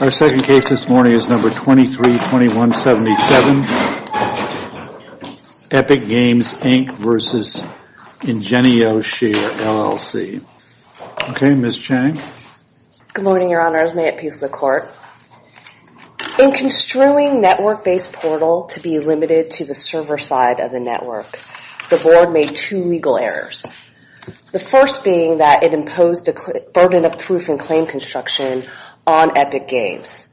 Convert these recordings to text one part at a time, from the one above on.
Our second case this morning is number 232177, Epic Games, Inc. v. IngenioShare, LLC. Okay, Ms. Chang. Good morning, Your Honors. May it peace of the court. In construing network-based portal to be limited to the server side of the network, the board made two legal errors. The first being that it imposed a burden of proof in claim construction on Epic Games.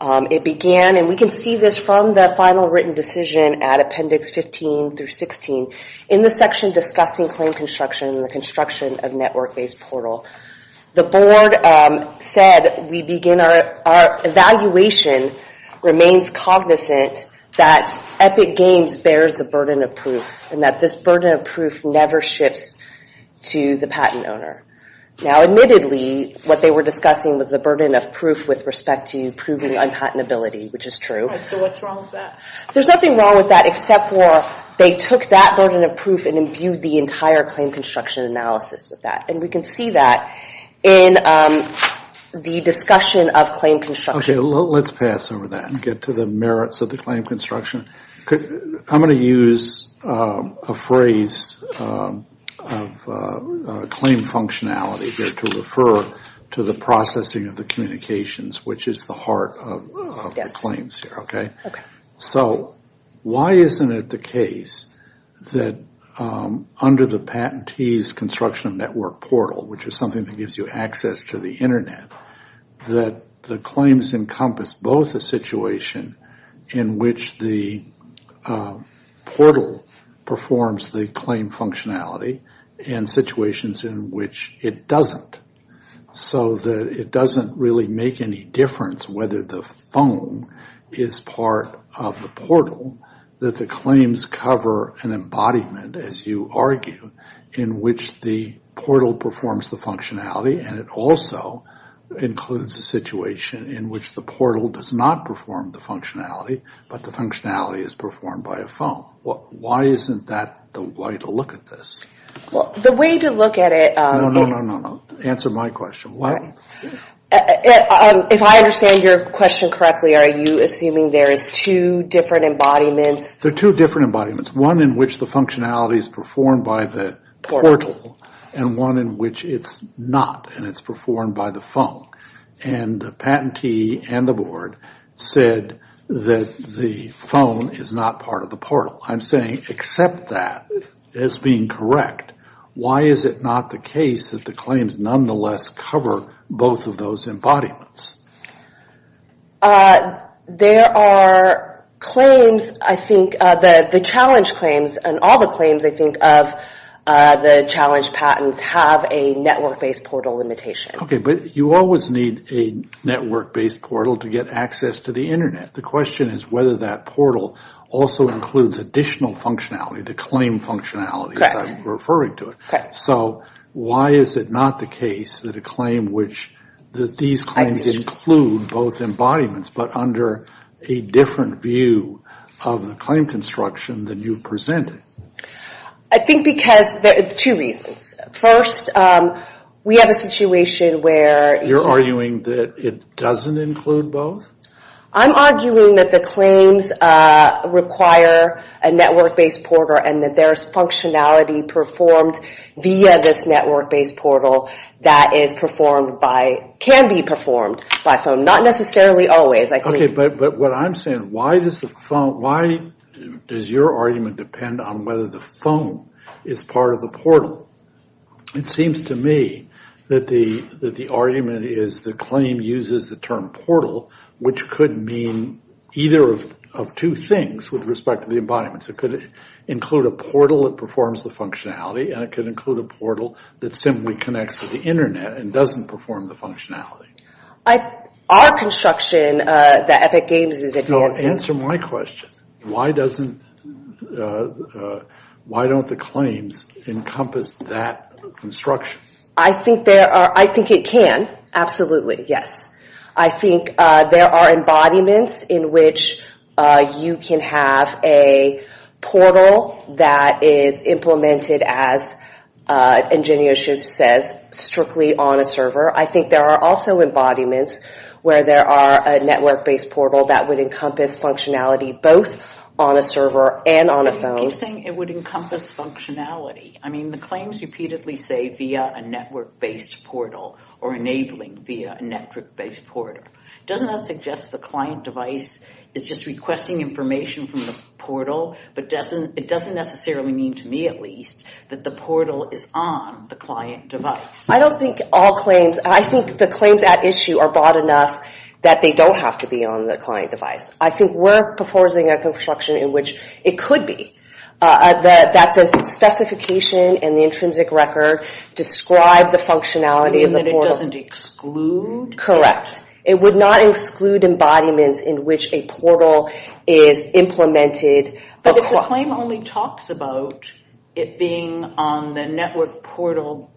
It began, and we can see this from the final written decision at Appendix 15 through 16, in the section discussing claim construction and the construction of network-based portal. The board said, we begin our evaluation, remains cognizant that Epic Games bears the burden of proof and that this burden of proof never shifts to the patent owner. Now, admittedly, what they were discussing was the burden of proof with respect to proving unpatentability, which is true. Right, so what's wrong with that? There's nothing wrong with that except for they took that burden of proof and imbued the entire claim construction analysis with that. And we can see that in the discussion of claim construction. Okay, let's pass over that and get to the merits of the claim construction. I'm going to use a phrase of claim functionality here to refer to the processing of the communications, which is the heart of the claims here, okay? So why isn't it the case that under the patentee's construction of network portal, which is something that gives you access to the Internet, that the claims encompass both a situation in which the portal performs the claim functionality and situations in which it doesn't, so that it doesn't really make any difference whether the phone is part of the portal, that the claims cover an embodiment, as you argue, in which the portal performs the functionality and it also includes a situation in which the portal does not perform the functionality, but the functionality is performed by a phone. Why isn't that the way to look at this? Well, the way to look at it... No, no, no, no, answer my question. If I understand your question correctly, are you assuming there is two different embodiments? There are two different embodiments, one in which the functionality is performed by the portal and one in which it's not and it's performed by the phone. And the patentee and the board said that the phone is not part of the portal. I'm saying accept that as being correct. Why is it not the case that the claims nonetheless cover both of those embodiments? There are claims, I think, the challenge claims and all the claims, I think, of the challenge patents have a network-based portal limitation. Okay, but you always need a network-based portal to get access to the Internet. The question is whether that portal also includes additional functionality, the claim functionality, as I'm referring to it. So why is it not the case that these claims include both embodiments but under a different view of the claim construction than you've presented? I think because there are two reasons. First, we have a situation where... You're arguing that it doesn't include both? I'm arguing that the claims require a network-based portal and that there's functionality performed via this network-based portal that can be performed by phone, not necessarily always. Okay, but what I'm saying, why does your argument depend on whether the phone is part of the portal? It seems to me that the argument is the claim uses the term portal, which could mean either of two things with respect to the embodiments. It could include a portal that performs the functionality and it could include a portal that simply connects to the Internet and doesn't perform the functionality. Our construction that Epic Games is advancing... Answer my question. Why don't the claims encompass that construction? I think it can, absolutely, yes. I think there are embodiments in which you can have a portal that is implemented, as Ingenious says, strictly on a server. I think there are also embodiments where there are a network-based portal that would encompass functionality both on a server and on a phone. You keep saying it would encompass functionality. I mean, the claims repeatedly say via a network-based portal or enabling via a network-based portal. Doesn't that suggest the client device is just requesting information from the portal? But it doesn't necessarily mean, to me at least, that the portal is on the client device. I don't think all claims... I think the claims at issue are broad enough that they don't have to be on the client device. I think we're proposing a construction in which it could be. That the specification and the intrinsic record describe the functionality of the portal. And that it doesn't exclude? Correct. It would not exclude embodiments in which a portal is implemented. But if the claim only talks about it being on the network portal,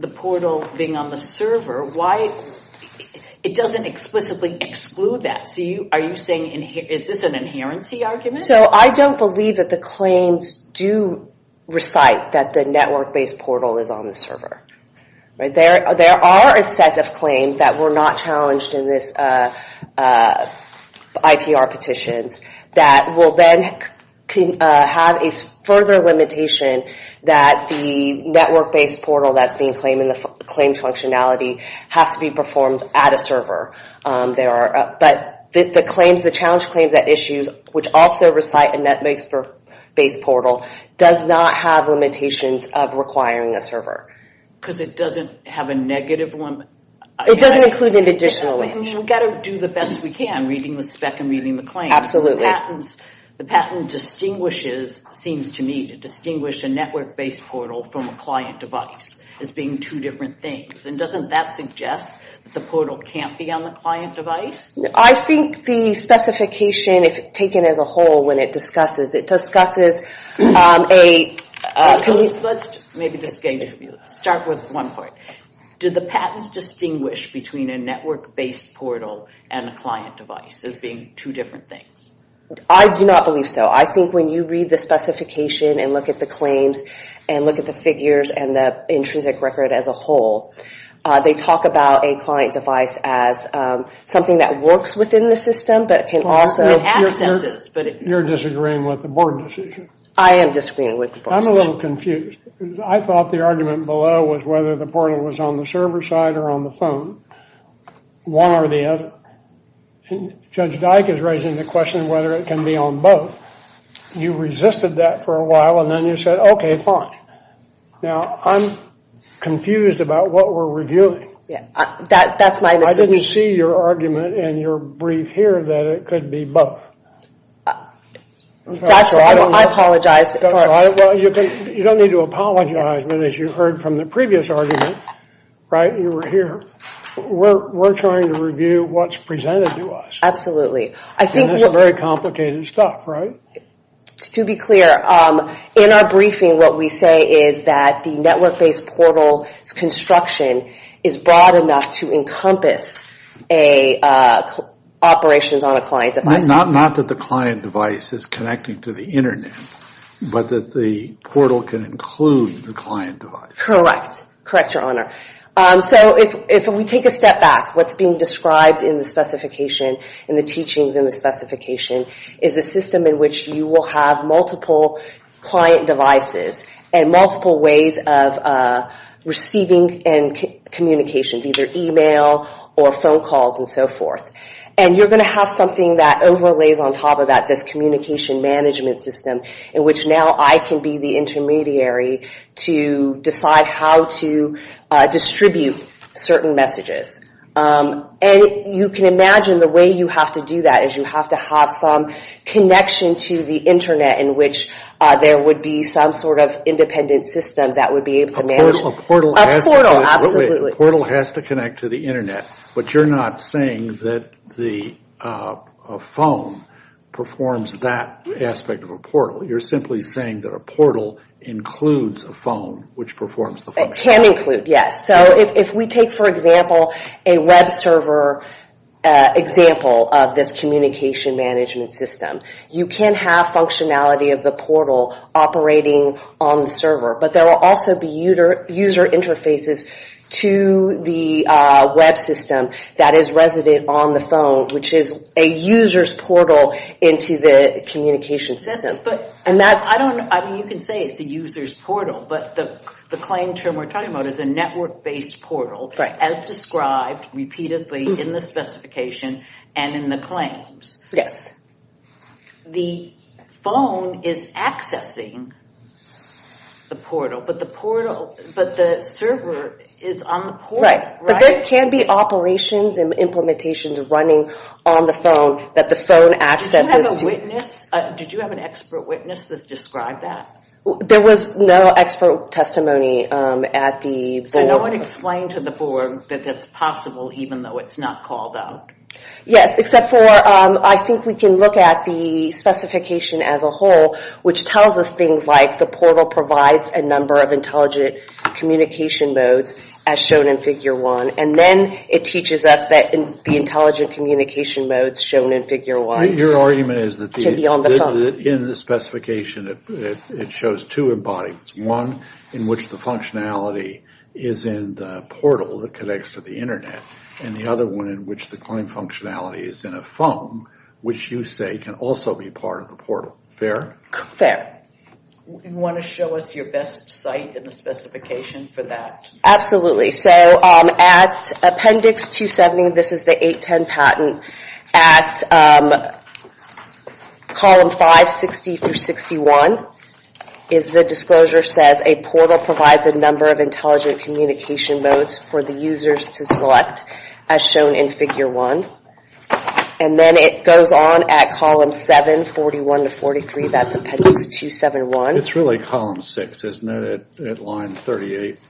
the portal being on the server, why... It doesn't explicitly exclude that. Is this an inherency argument? I don't believe that the claims do recite that the network-based portal is on the server. There are a set of claims that were not challenged in this IPR petitions that will then have a further limitation that the network-based portal that's being claimed functionality has to be performed at a server. But the challenge claims at issues which also recite a network-based portal does not have limitations of requiring a server. Because it doesn't have a negative one? It doesn't include an additional language. We've got to do the best we can, reading the spec and reading the claims. Absolutely. The patent distinguishes, seems to me, to distinguish a network-based portal from a client device as being two different things. And doesn't that suggest that the portal can't be on the client device? I think the specification, if taken as a whole, when it discusses, it discusses a... Maybe this is getting difficult. Let's start with one part. Do the patents distinguish between a network-based portal and a client device as being two different things? I do not believe so. I think when you read the specification and look at the claims and look at the figures and the intrinsic record as a whole, they talk about a client device as something that works within the system but can also... You're disagreeing with the board decision. I am disagreeing with the board decision. I'm a little confused. I thought the argument below was whether the portal was on the server side or on the phone. One or the other. Judge Dyke is raising the question whether it can be on both. You resisted that for a while, and then you said, okay, fine. Now, I'm confused about what we're reviewing. That's my mistake. I didn't see your argument in your brief here that it could be both. That's right. I apologize. That's right. Well, you don't need to apologize, but as you heard from the previous argument, right, you were here. We're trying to review what's presented to us. Absolutely. This is very complicated stuff, right? To be clear, in our briefing, what we say is that the network-based portal's construction is broad enough to encompass operations on a client device. Not that the client device is connecting to the Internet, but that the portal can include the client device. Correct. Correct, Your Honor. If we take a step back, what's being described in the specifications, in the teachings in the specifications, is a system in which you will have multiple client devices and multiple ways of receiving and communications, either email or phone calls and so forth. And you're going to have something that overlays on top of that, this communication management system in which now I can be the intermediary to decide how to distribute certain messages. And you can imagine the way you have to do that is you have to have some connection to the Internet in which there would be some sort of independent system that would be able to manage. A portal. A portal, absolutely. A portal has to connect to the Internet, but you're not saying that a phone performs that aspect of a portal. You're simply saying that a portal includes a phone, which performs the functionality. It can include, yes. So if we take, for example, a web server example of this communication management system, you can have functionality of the portal operating on the server, but there will also be user interfaces to the web system that is resident on the phone, which is a user's portal into the communication system. You can say it's a user's portal, but the claim term we're talking about is a network-based portal as described repeatedly in the specification and in the claims. Yes. The phone is accessing the portal, but the server is on the portal, right? But there can be operations and implementations running on the phone that the phone accesses to. Did you have an expert witness that described that? There was no expert testimony at the board. So no one explained to the board that that's possible, even though it's not called out. Yes, except for I think we can look at the specification as a whole, which tells us things like the portal provides a number of intelligent communication modes as shown in Figure 1, and then it teaches us the intelligent communication modes shown in Figure 1. Your argument is that in the specification it shows two embodiments, one in which the functionality is in the portal that connects to the Internet, and the other one in which the claim functionality is in a phone, which you say can also be part of the portal. Fair? Fair. Do you want to show us your best site in the specification for that? Absolutely. So at Appendix 270, this is the 810 patent, at Column 5, 60 through 61, the disclosure says a portal provides a number of intelligent communication modes for the users to select, as shown in Figure 1. And then it goes on at Column 7, 41 to 43. That's Appendix 271. It's really Column 6, isn't it, at Line 38?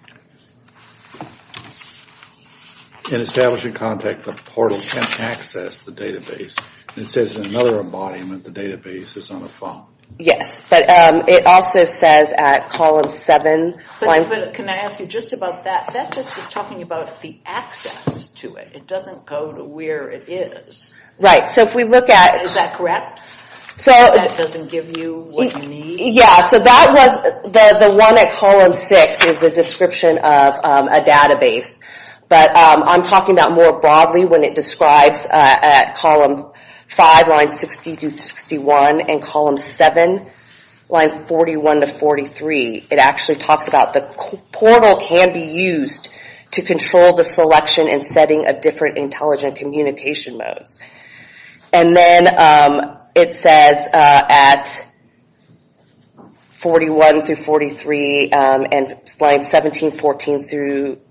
In establishing contact, the portal can't access the database. It says in another embodiment the database is on a phone. Yes, but it also says at Column 7. But can I ask you just about that? That just is talking about the access to it. It doesn't go to where it is. Right. So if we look at... Is that correct? That doesn't give you what you need? Yeah. So that was the one at Column 6 is the description of a database. But I'm talking about more broadly when it describes at Column 5, Line 60 through 61, and Column 7, Line 41 to 43. It actually talks about the portal can be used to control the selection and setting of different intelligent communication modes. And then it says at 41 through 43 and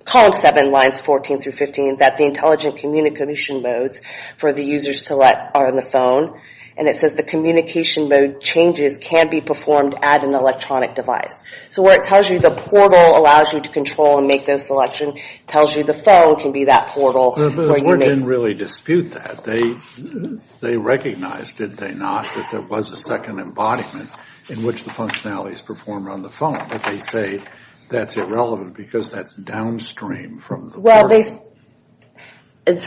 Column 7, Lines 14 through 15, that the intelligent communication modes for the users to select are on the phone. And it says the communication mode changes can be performed at an electronic device. So what it tells you, the portal allows you to control and make those selections. It tells you the phone can be that portal. The board didn't really dispute that. They recognized, did they not, that there was a second embodiment in which the functionality is performed on the phone. But they say that's irrelevant because that's downstream from the portal. Well,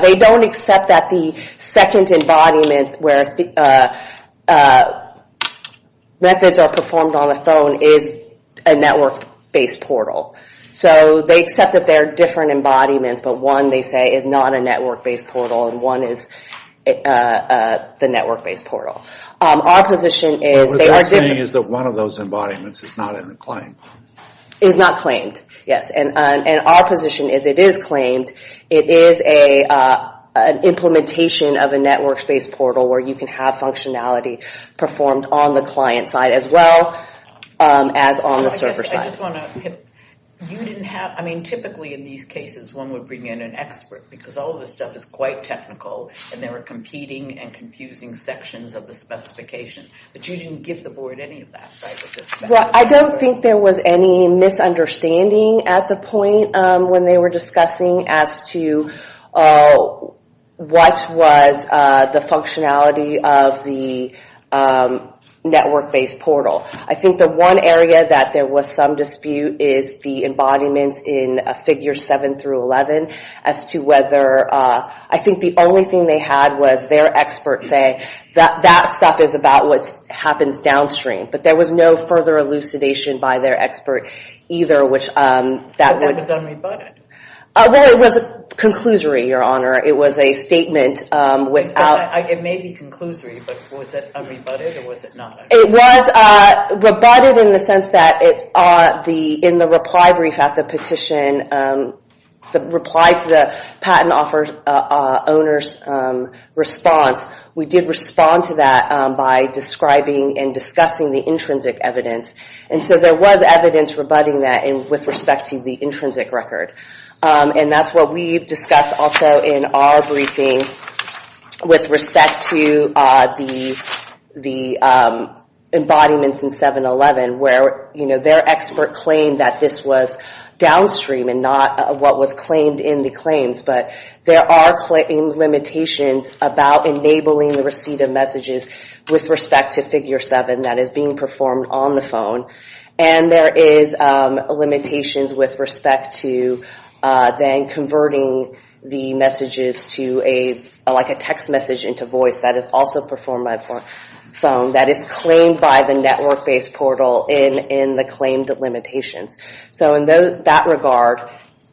they don't accept that the second embodiment where methods are performed on the phone is a network-based portal. So they accept that there are different embodiments, but one, they say, is not a network-based portal, and one is the network-based portal. Our position is they are different. What they're saying is that one of those embodiments is not in the claim. Is not claimed, yes. And our position is it is claimed. It is an implementation of a network-based portal where you can have functionality performed on the client side as well as on the server side. You didn't have, I mean, typically in these cases, one would bring in an expert because all of this stuff is quite technical and there are competing and confusing sections of the specification. But you didn't give the board any of that, right? Well, I don't think there was any misunderstanding at the point when they were discussing as to what was the functionality of the network-based portal. I think the one area that there was some dispute is the embodiment in figures 7 through 11 as to whether, I think the only thing they had was their expert say that that stuff is about what happens downstream. But there was no further elucidation by their expert either which that would... But that was unrebutted. Well, it was a conclusory, Your Honor. It was a statement without... It may be conclusory, but was it unrebutted or was it not? It was rebutted in the sense that in the reply brief at the petition, the reply to the patent owner's response, we did respond to that by describing and discussing the intrinsic evidence. And so there was evidence rebutting that with respect to the intrinsic record. And that's what we've discussed also in our briefing with respect to the embodiments in 7-11 where their expert claimed that this was downstream and not what was claimed in the claims. But there are limitations about enabling the receipt of messages with respect to figure 7 that is being performed on the phone. And there is limitations with respect to then converting the messages to like a text message into voice that is also performed by the phone that is claimed by the network-based portal in the claimed limitations. So in that regard,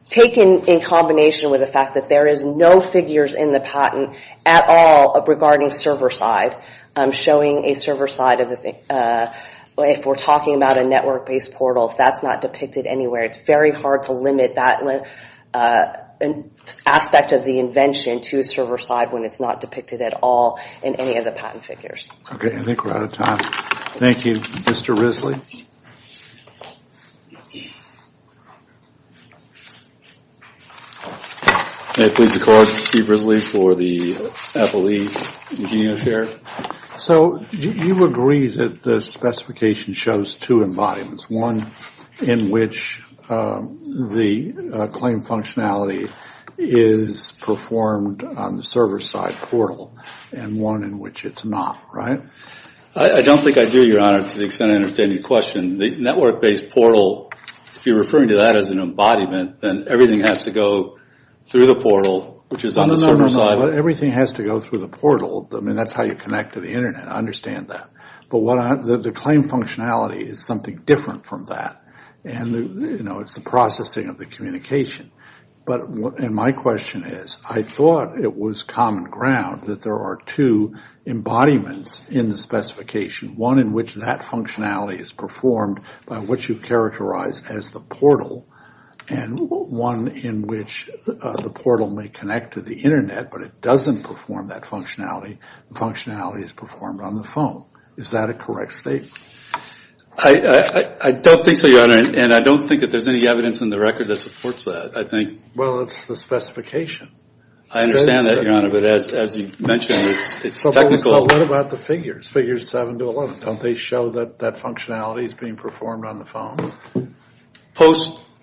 taken in combination with the fact that there is no figures in the patent at all regarding server side, showing a server side of the thing. If we're talking about a network-based portal, that's not depicted anywhere. It's very hard to limit that aspect of the invention to server side when it's not depicted at all in any of the patent figures. Okay, I think we're out of time. Thank you. Mr. Risley? May it please the Court, Steve Risley for the FLE Engineer's Chair. So you agree that the specification shows two embodiments, one in which the claim functionality is performed on the server side portal and one in which it's not, right? I don't think I do, Your Honor, to the extent I understand your question. The network-based portal, if you're referring to that as an embodiment, then everything has to go through the portal, which is on the server side. No, no, no. Everything has to go through the portal. I mean, that's how you connect to the Internet. I understand that. But the claim functionality is something different from that. And, you know, it's the processing of the communication. And my question is, I thought it was common ground that there are two embodiments in the specification, one in which that functionality is performed by what you characterize as the portal and one in which the portal may connect to the Internet, but it doesn't perform that functionality. The functionality is performed on the phone. Is that a correct statement? I don't think so, Your Honor, and I don't think that there's any evidence in the record that supports that. Well, it's the specification. I understand that, Your Honor, but as you mentioned, it's technical. So what about the figures, figures 7 to 11? Don't they show that that functionality is being performed on the phone?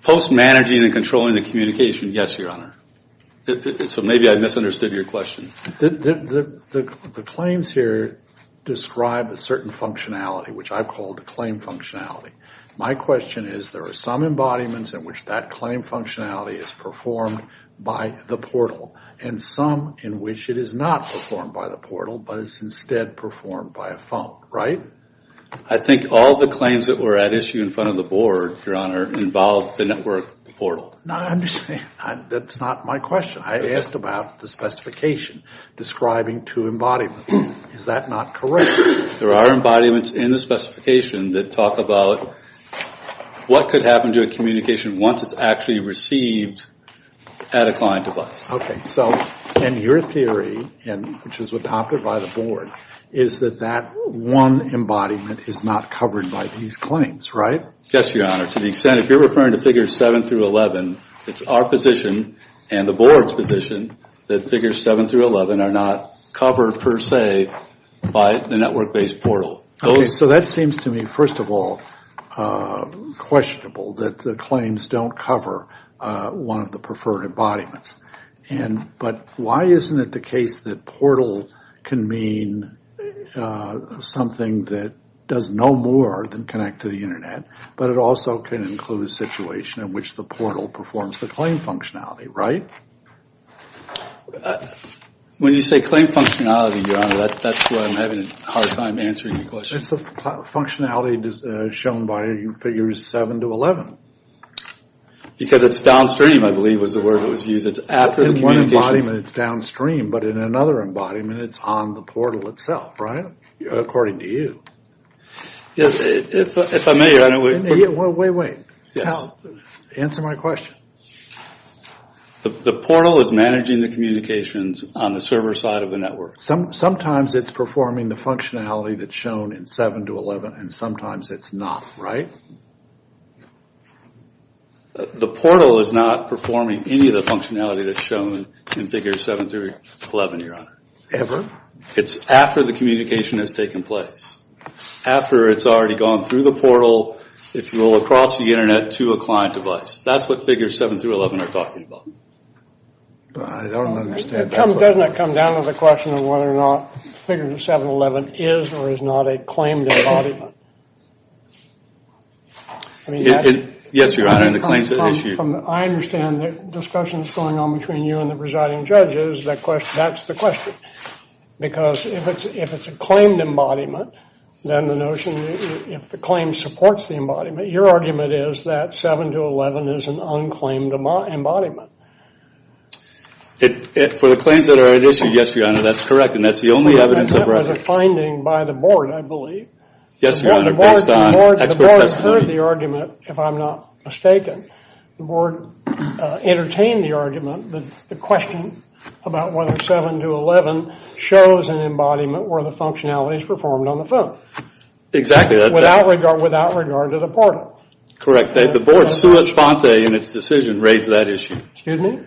Post-managing and controlling the communication, yes, Your Honor. So maybe I misunderstood your question. The claims here describe a certain functionality, which I've called the claim functionality. My question is there are some embodiments in which that claim functionality is performed by the portal and some in which it is not performed by the portal, but is instead performed by a phone, right? I think all the claims that were at issue in front of the Board, Your Honor, involved the network portal. No, I'm just saying that's not my question. I asked about the specification describing two embodiments. Is that not correct? There are embodiments in the specification that talk about what could happen to a communication once it's actually received at a client device. Okay, so in your theory, which is adopted by the Board, is that that one embodiment is not covered by these claims, right? Yes, Your Honor. To the extent if you're referring to figures 7 through 11, it's our position and the Board's position that figures 7 through 11 are not covered per se by the network-based portal. So that seems to me, first of all, questionable, that the claims don't cover one of the preferred embodiments. But why isn't it the case that portal can mean something that does no more than connect to the Internet, but it also can include a situation in which the portal performs the claim functionality, right? When you say claim functionality, Your Honor, that's where I'm having a hard time answering your question. It's the functionality shown by figures 7 to 11. Because it's downstream, I believe, was the word that was used. It's after the communication. In one embodiment, it's downstream, but in another embodiment, it's on the portal itself, right? According to you. If I may, Your Honor. Wait, wait. Answer my question. The portal is managing the communications on the server side of the network. Sometimes it's performing the functionality that's shown in 7 to 11, and sometimes it's not, right? The portal is not performing any of the functionality that's shown in figures 7 through 11, Your Honor. Ever? It's after the communication has taken place. After it's already gone through the portal, if you will, across the Internet to a client device. That's what figures 7 through 11 are talking about. I don't understand. Doesn't that come down to the question of whether or not figures 7 to 11 is or is not a claimed embodiment? Yes, Your Honor, in the claims that issue. I understand the discussions going on between you and the presiding judges. That's the question. Because if it's a claimed embodiment, then the notion that if the claim supports the embodiment, your argument is that 7 to 11 is an unclaimed embodiment. For the claims that are at issue, yes, Your Honor, that's correct. And that's the only evidence of record. That was a finding by the board, I believe. Yes, Your Honor, based on expert testimony. The board heard the argument, if I'm not mistaken. The board entertained the argument, the question about whether 7 to 11 shows an embodiment where the functionality is performed on the phone. Exactly. Without regard to the portal. Correct. The board, sua sponte, in its decision, raised that issue. Excuse me?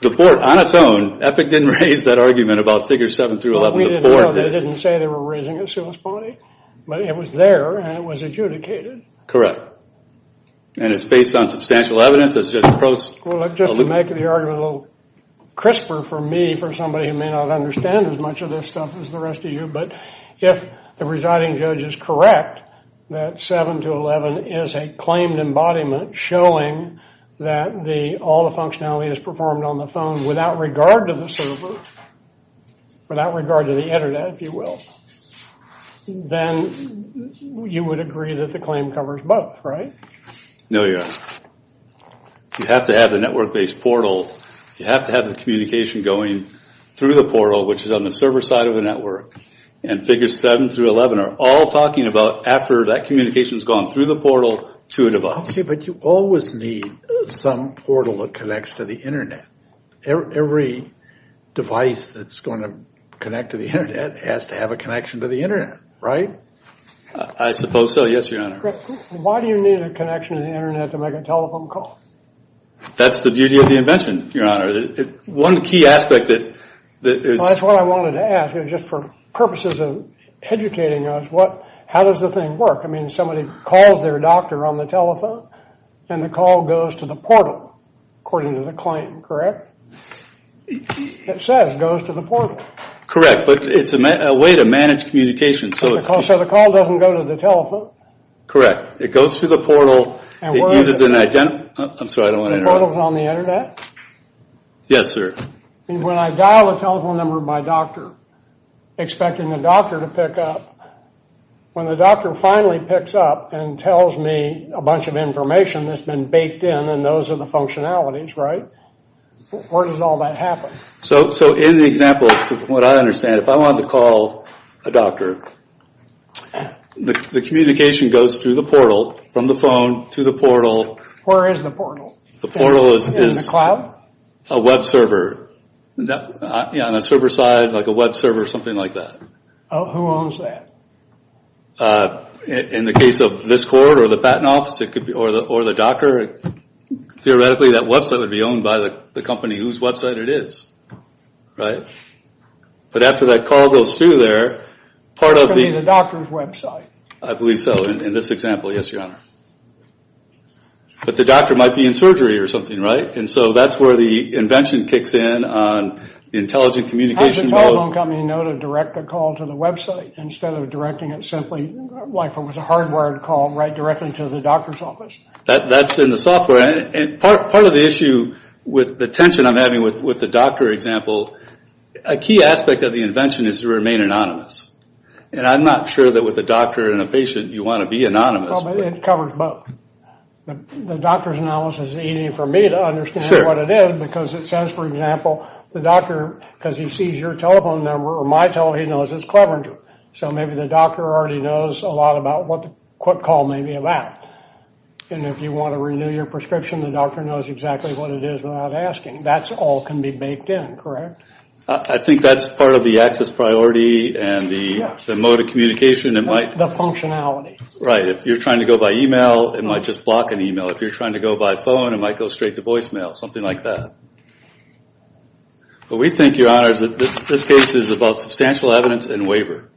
The board, on its own, Epic didn't raise that argument about figures 7 through 11. The board didn't say they were raising it sua sponte, but it was there and it was adjudicated. Correct. And it's based on substantial evidence? Well, just to make the argument a little crisper for me, for somebody who may not understand as much of this stuff as the rest of you, but if the residing judge is correct that 7 to 11 is a claimed embodiment showing that all the functionality is performed on the phone without regard to the server, without regard to the internet, if you will, then you would agree that the claim covers both, right? No, Your Honor. You have to have the network-based portal, you have to have the communication going through the portal, which is on the server side of the network, and figures 7 through 11 are all talking about after that communication has gone through the portal to a device. Okay, but you always need some portal that connects to the internet. Every device that's going to connect to the internet has to have a connection to the internet, right? I suppose so, yes, Your Honor. Why do you need a connection to the internet to make a telephone call? That's the beauty of the invention, Your Honor. One key aspect that is... That's what I wanted to ask. Just for purposes of educating us, how does the thing work? I mean, somebody calls their doctor on the telephone and the call goes to the portal, according to the claim, correct? It says it goes to the portal. Correct, but it's a way to manage communication, so... So the call doesn't go to the telephone? Correct. It goes to the portal, it uses an ident... I'm sorry, I don't want to interrupt. The portal's on the internet? Yes, sir. When I dial the telephone number of my doctor, expecting the doctor to pick up, when the doctor finally picks up and tells me a bunch of information that's been baked in and those are the functionalities, right? Where does all that happen? So in the example, from what I understand, if I wanted to call a doctor, the communication goes through the portal, from the phone to the portal. Where is the portal? The portal is... In the cloud? A web server. On a server side, like a web server, something like that. Who owns that? In the case of this court or the patent office, or the doctor, theoretically that website would be owned by the company whose website it is. Right? But after that call goes through there, part of the... That could be the doctor's website. I believe so, in this example, yes, your honor. But the doctor might be in surgery or something, right? And so that's where the invention kicks in on intelligent communication... Does the telephone company know to direct a call to the website instead of directing it simply, like if it was a hardwired call, right directly to the doctor's office? That's in the software. Part of the issue with the tension I'm having with the doctor example, a key aspect of the invention is to remain anonymous. And I'm not sure that with a doctor and a patient, you want to be anonymous. It covers both. The doctor's analysis is easy for me to understand what it is because it says, for example, the doctor, because he sees your telephone number or my telephone number, he knows it's Cleveland. So maybe the doctor already knows a lot about what the quick call may be about. And if you want to renew your prescription, the doctor knows exactly what it is without asking. That all can be baked in, correct? I think that's part of the access priority and the mode of communication. The functionality. Right. If you're trying to go by email, it might just block an email. If you're trying to go by phone, it might go straight to voicemail, something like that. But we think, Your Honors, that this case is about substantial evidence and waiver.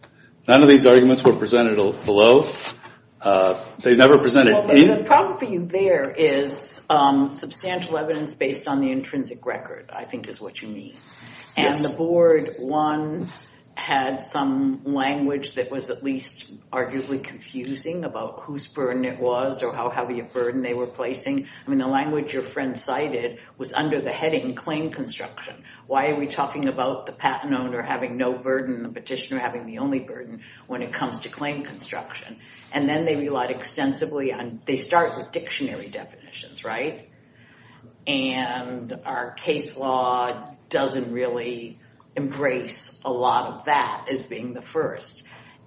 None of these arguments were presented below. They never presented beneath. The problem for you there is substantial evidence based on the intrinsic record, I think is what you mean. And the board, one, had some language that was at least arguably confusing about whose burden it was or how heavy a burden they were placing. I mean, the language your friend cited was under the heading claim construction. Why are we talking about the patent owner having no burden, the petitioner having the only burden when it comes to claim construction? And then they relied extensively on, they start with dictionary definitions, right? And our case law doesn't really embrace a lot of that as being the first.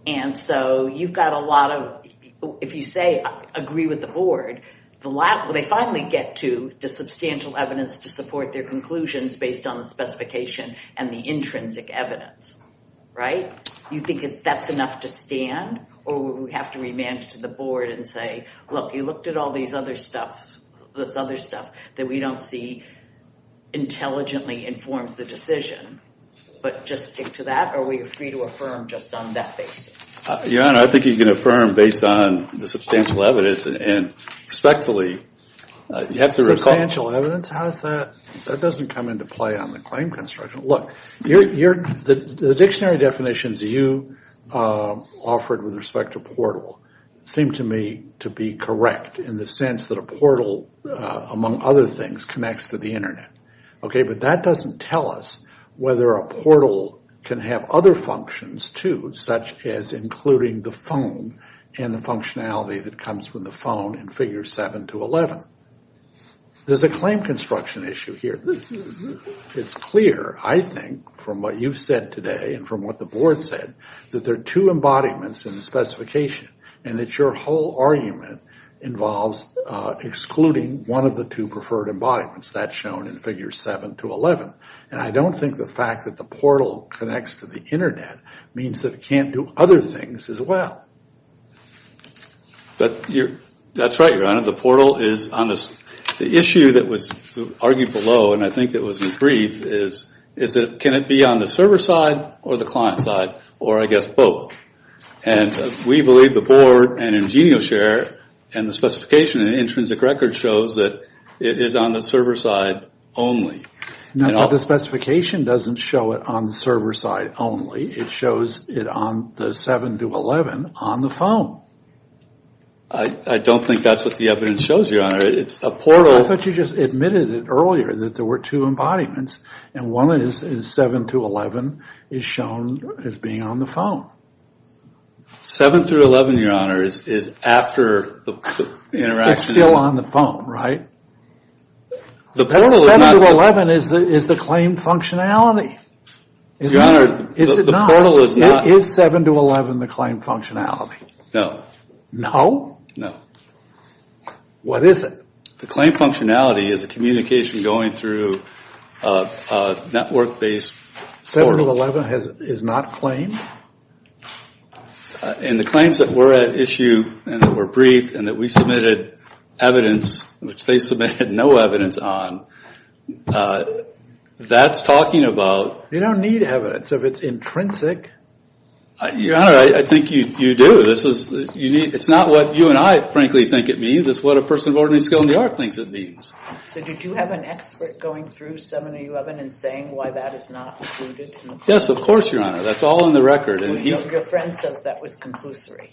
And so you've got a lot of, if you say, agree with the board, they finally get to the substantial evidence to support their conclusions based on the specification and the intrinsic evidence, right? You think that's enough to stand? Or would we have to remand it to the board and say, look, you looked at all this other stuff that we don't see intelligently informs the decision. But just stick to that? Or are we free to affirm just on that basis? Your Honor, I think you can affirm based on the substantial evidence and respectfully you have to recall. Substantial evidence? How is that? That doesn't come into play on the claim construction. Look, the dictionary definitions you offered with respect to portal seem to me to be correct in the sense that a portal, among other things, connects to the Internet. Okay, but that doesn't tell us whether a portal can have other functions too, such as including the phone and the functionality that comes from the phone in Figures 7-11. There's a claim construction issue here. It's clear, I think, from what you've said today and from what the board said, that there are two embodiments in the specification and that your whole argument involves excluding one of the two preferred embodiments. That's shown in Figures 7-11. And I don't think the fact that the portal connects to the Internet means that it can't do other things as well. That's right, Your Honor. The issue that was argued below, and I think that was agreed, is can it be on the server side or the client side, or I guess both. And we believe the board and IngenioShare and the specification in the intrinsic record shows that it is on the server side only. Now, the specification doesn't show it on the server side only. It shows it on the 7-11 on the phone. I don't think that's what the evidence shows, Your Honor. It's a portal. I thought you just admitted it earlier that there were two embodiments. And one is 7-11 is shown as being on the phone. 7-11, Your Honor, is after the interaction. It's still on the phone, right? 7-11 is the claim functionality. Your Honor, the portal is not. Is 7-11 the claim functionality? No. No? No. What is it? The claim functionality is a communication going through a network-based portal. 7-11 is not a claim? And the claims that were at issue and that were brief and that we submitted evidence, which they submitted no evidence on, that's talking about... You don't need evidence if it's intrinsic. Your Honor, I think you do. It's not what you and I, frankly, think it means. It's what a person of ordinary skill in the art thinks it means. So did you have an expert going through 7-11 and saying why that is not included? Yes, of course, Your Honor. That's all on the record. Your friend says that was conclusory.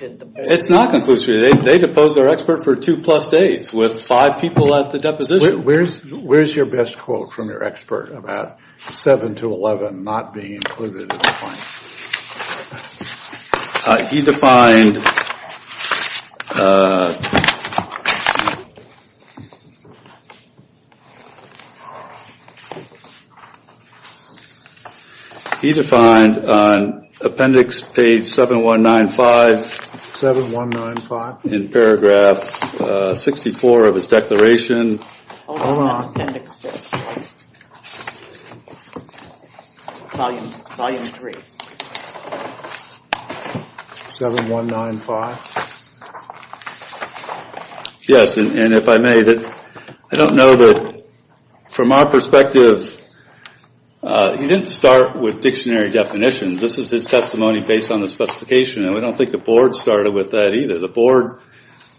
It's not conclusory. They deposed our expert for two-plus days with five people at the deposition. Where's your best quote from your expert about 7-11 not being included in the claims? He defined... He defined on appendix page 7195... 7195. In paragraph 64 of his declaration... Hold on. Appendix 6. Volume 3. 7195. Yes, and if I may, I don't know that, from our perspective, he didn't start with dictionary definitions. This was his testimony based on the specification, and I don't think the Board started with that either. The Board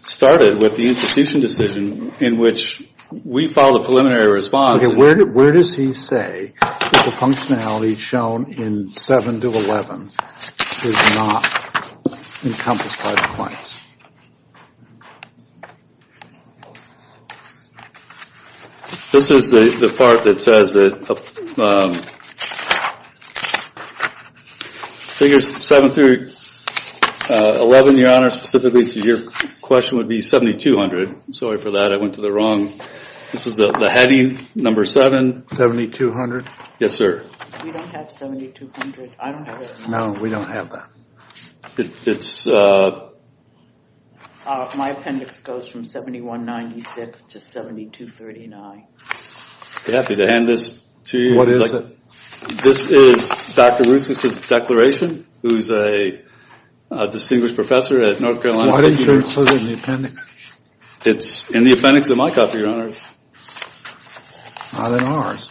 started with the institution decision in which we filed a preliminary response. Okay, where does he say the functionality shown in 7-11 is not encompassed by the claims? This is the part that says that figures 7 through 11, your Honor, specifically to your question would be 7200. Sorry for that. I went to the wrong... This is the heading, number 7. 7200. Yes, sir. We don't have 7200. I don't have it. No, we don't have that. It's... My appendix goes from 7196 to 7239. I'm happy to hand this to you. What is it? This is Dr. Ruth's declaration, who's a distinguished professor at North Carolina State University. Why do you say it's in the appendix? It's in the appendix of my copy, your Honor. Not in ours.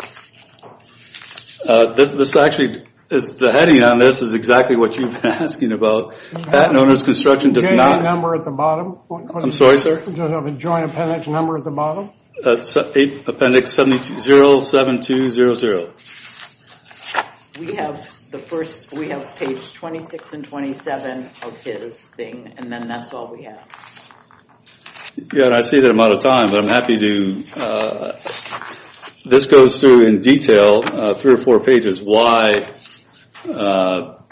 This actually, the heading on this is exactly what you've been asking about. Patent owner's construction does not... Do you have a number at the bottom? I'm sorry, sir? Do you have a joint appendix number at the bottom? Appendix 7200. We have the first... We have page 26 and 27 of his thing, and then that's all we have. Yeah, and I see that I'm out of time, but I'm happy to... This goes through in detail, three or four pages, why...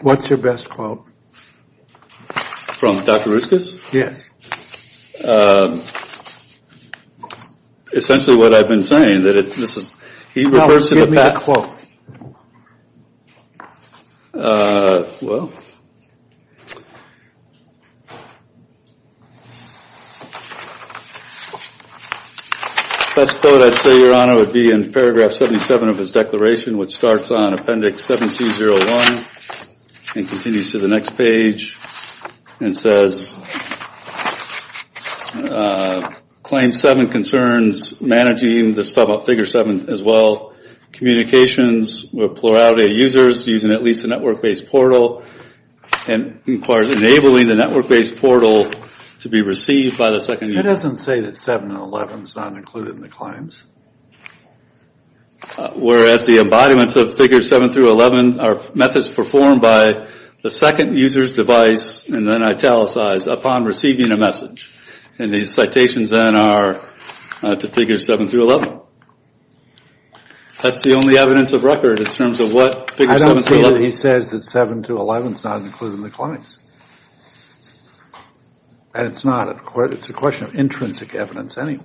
What's your best quote? From Dr. Ruskus? Yes. Essentially what I've been saying, that this is... Now, give me the quote. Well... Best quote, I'd say, your Honor, would be in paragraph 77 of his declaration, which starts on appendix 1701 and continues to the next page and says, Claim 7 concerns managing the figure 7 as well. Communications with plurality of users using at least a network-based portal and requires enabling the network-based portal to be received by the second user. It doesn't say that 7 and 11 is not included in the claims. Whereas the embodiments of figures 7 through 11 are methods performed by the second user's device, and then italicized, upon receiving a message. And these citations then are to figures 7 through 11. That's the only evidence of record in terms of what figures 7 through 11... I don't see that he says that 7 through 11 is not included in the claims. And it's not. It's a question of intrinsic evidence anyway.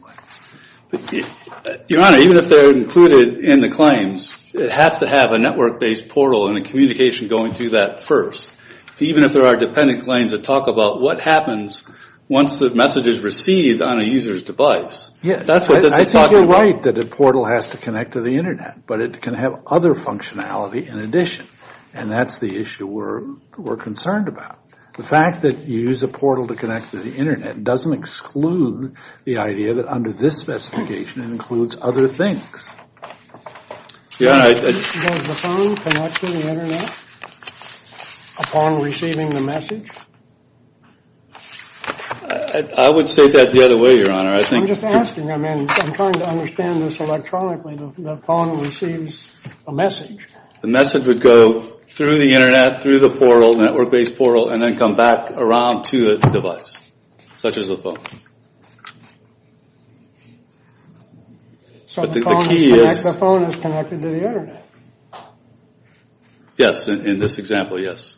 Your Honor, even if they're included in the claims, it has to have a network-based portal and a communication going through that first. Even if there are dependent claims that talk about what happens once the message is received on a user's device. I think you're right that a portal has to connect to the Internet, but it can have other functionality in addition. And that's the issue we're concerned about. The fact that you use a portal to connect to the Internet doesn't exclude the idea that under this specification it includes other things. Does the phone connect to the Internet upon receiving the message? I would say that's the other way, Your Honor. I'm just asking. I'm trying to understand this electronically. The phone receives a message. The message would go through the Internet, through the portal, and then come back around to the device, such as the phone. So the phone is connected to the Internet? Yes, in this example, yes.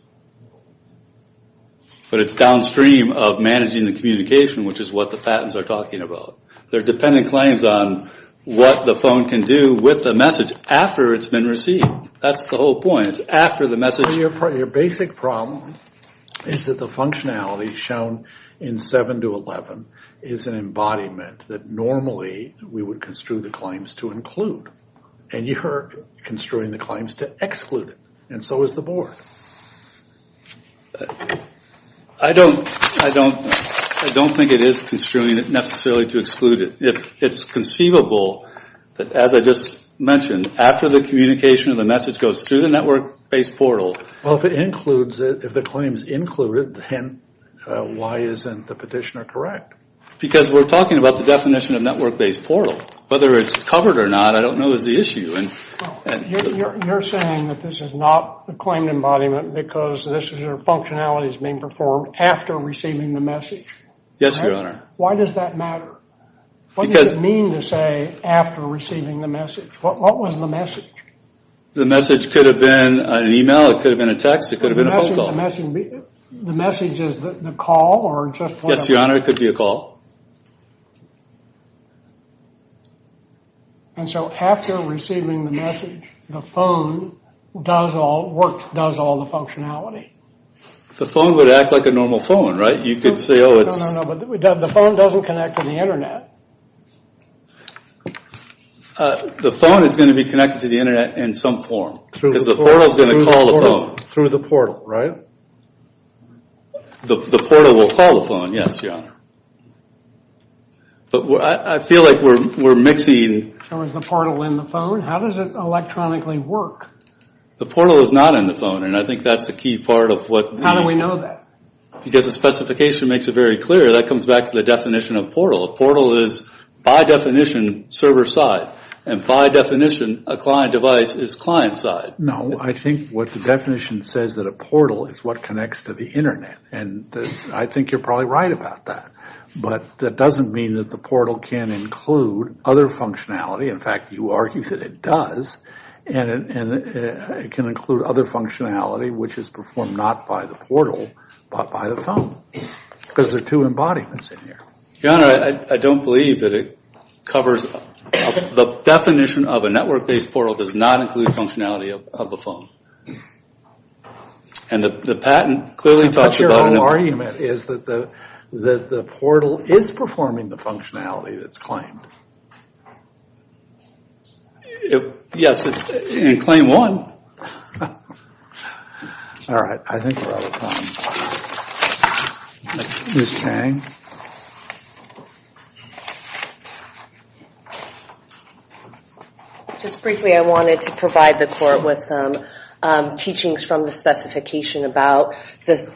But it's downstream of managing the communication, which is what the patents are talking about. They're dependent claims on what the phone can do with the message after it's been received. That's the whole point. Your basic problem is that the functionality shown in 7 to 11 is an embodiment that normally we would construe the claims to include. And you're construing the claims to exclude it. And so is the Board. I don't think it is construing it necessarily to exclude it. It's conceivable that, as I just mentioned, after the communication of the message goes through the network-based portal. Well, if it includes it, if the claim is included, then why isn't the petitioner correct? Because we're talking about the definition of network-based portal. Whether it's covered or not, I don't know, is the issue. You're saying that this is not the claimed embodiment because this is where functionality is being performed after receiving the message. Yes, Your Honor. Why does that matter? What does it mean to say after receiving the message? What was the message? The message could have been an email. It could have been a text. It could have been a phone call. The message is the call? Yes, Your Honor. It could be a call. And so after receiving the message, the phone does all the functionality. The phone would act like a normal phone, right? No, no, no. The phone doesn't connect to the Internet. The phone is going to be connected to the Internet in some form because the portal is going to call the phone. Through the portal, right? The portal will call the phone, yes, Your Honor. But I feel like we're mixing. So is the portal in the phone? How does it electronically work? The portal is not in the phone, and I think that's a key part of what we need. How do we know that? Because the specification makes it very clear. That comes back to the definition of portal. A portal is, by definition, server side. And by definition, a client device is client side. No, I think what the definition says that a portal is what connects to the Internet. And I think you're probably right about that. But that doesn't mean that the portal can include other functionality. In fact, you argue that it does. And it can include other functionality, which is performed not by the portal, but by the phone. Because there are two embodiments in here. Your Honor, I don't believe that it covers. The definition of a network-based portal does not include functionality of the phone. And the patent clearly talks about. But your whole argument is that the portal is performing the functionality that's claimed. Yes, in claim one. All right. I think we're out of time. Ms. Tang? Just briefly, I wanted to provide the Court with some teachings from the specification about the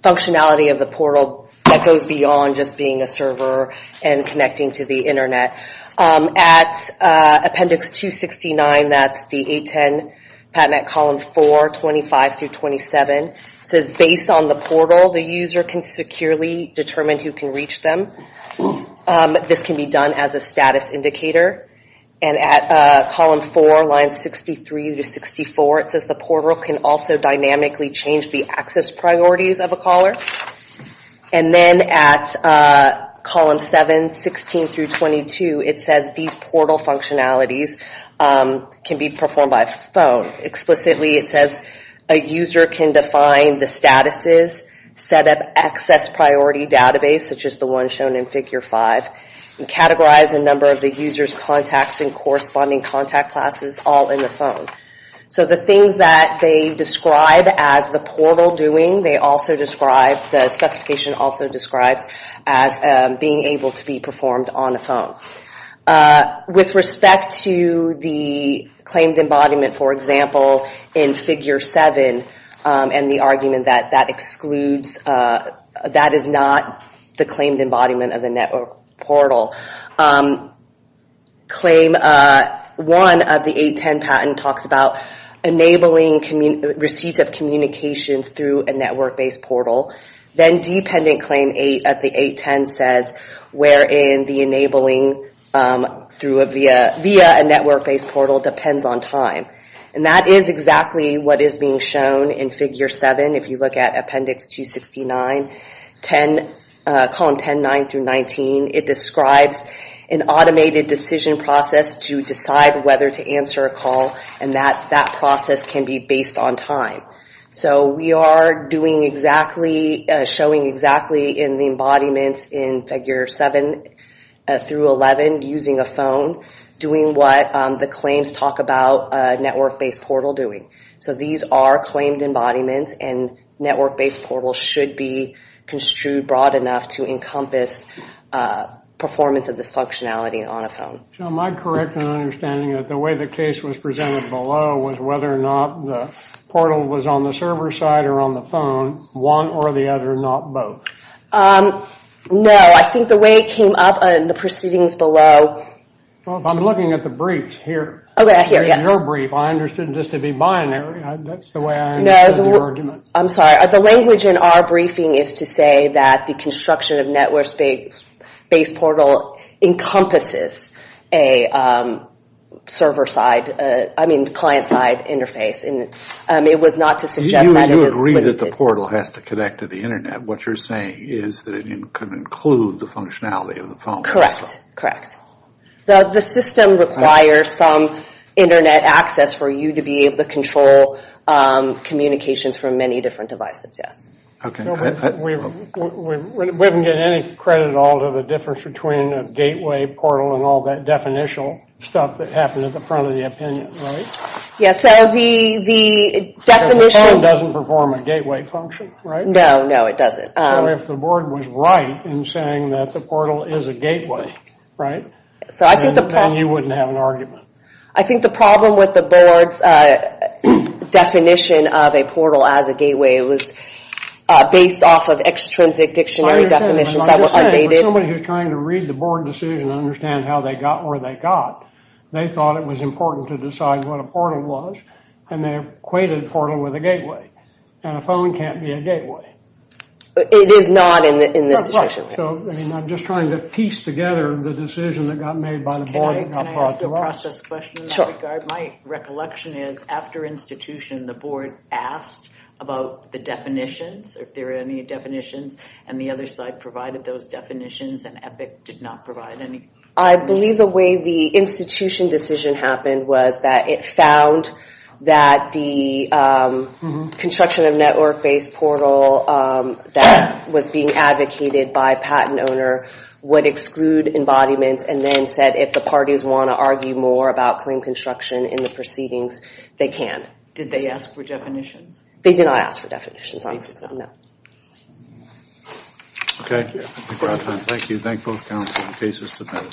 functionality of the portal that goes beyond just being a server and connecting to the Internet. At appendix 269, that's the 810 patent at column 4, 25 through 27, it says based on the portal, the user can securely determine who can reach them. This can be done as a status indicator. And at column 4, lines 63 through 64, it says the portal can also dynamically change the access priorities of a caller. And then at column 7, 16 through 22, it says these portal functionalities can be performed by phone. Explicitly, it says a user can define the statuses, set up access priority database, such as the one shown in figure 5, and categorize a number of the user's contacts and corresponding contact classes all in the phone. So the things that they describe as the portal doing, they also describe, the specification also describes as being able to be performed on a phone. With respect to the claimed embodiment, for example, in figure 7, and the argument that that excludes, that is not the claimed embodiment of the network portal, claim 1 of the 810 patent talks about enabling receipts of communications through a network-based portal. Then dependent claim 8 of the 810 says wherein the enabling via a network-based portal depends on time. And that is exactly what is being shown in figure 7. If you look at appendix 269, column 10, 9 through 19, it describes an automated decision process to decide whether to answer a call, and that process can be based on time. So we are doing exactly, showing exactly in the embodiments in figure 7 through 11, using a phone, doing what the claims talk about a network-based portal doing. So these are claimed embodiments, and network-based portals should be construed broad enough to encompass performance of this functionality on a phone. So am I correct in understanding that the way the case was presented below was whether or not the portal was on the server side or on the phone, one or the other, not both? No, I think the way it came up in the proceedings below. Well, I'm looking at the brief here. Okay, here, yes. In your brief, I understood this to be binary. That's the way I understood the argument. I'm sorry. The language in our briefing is to say that the construction of network-based portal encompasses a server-side, I mean client-side interface. It was not to suggest that it is. You agree that the portal has to connect to the Internet. What you're saying is that it could include the functionality of the phone. Correct, correct. The system requires some Internet access for you to be able to control communications from many different devices, yes. We haven't given any credit at all to the difference between a gateway portal and all that definitional stuff that happened at the front of the opinion, right? Yes. So the definition of the phone doesn't perform a gateway function, right? No, no, it doesn't. So if the board was right in saying that the portal is a gateway, right, then you wouldn't have an argument. I think the problem with the board's definition of a portal as a gateway was based off of extrinsic dictionary definitions that were updated. I understand, but I'm just saying for somebody who's trying to read the board decision and understand how they got where they got, they thought it was important to decide what a portal was, and they equated a portal with a gateway. And a phone can't be a gateway. It is not in this situation. Correct, correct. So I'm just trying to piece together the decision that got made by the board Can I ask a process question in that regard? My recollection is after institution, the board asked about the definitions, if there were any definitions, and the other side provided those definitions, and EPIC did not provide any. I believe the way the institution decision happened was that it found that the construction of network-based portal that was being advocated by a patent owner would exclude embodiments and then said if the parties want to argue more about claim construction in the proceedings, they can. Did they ask for definitions? They did not ask for definitions. Okay. Thank you. Thank you. Thank both counsels. The case is submitted.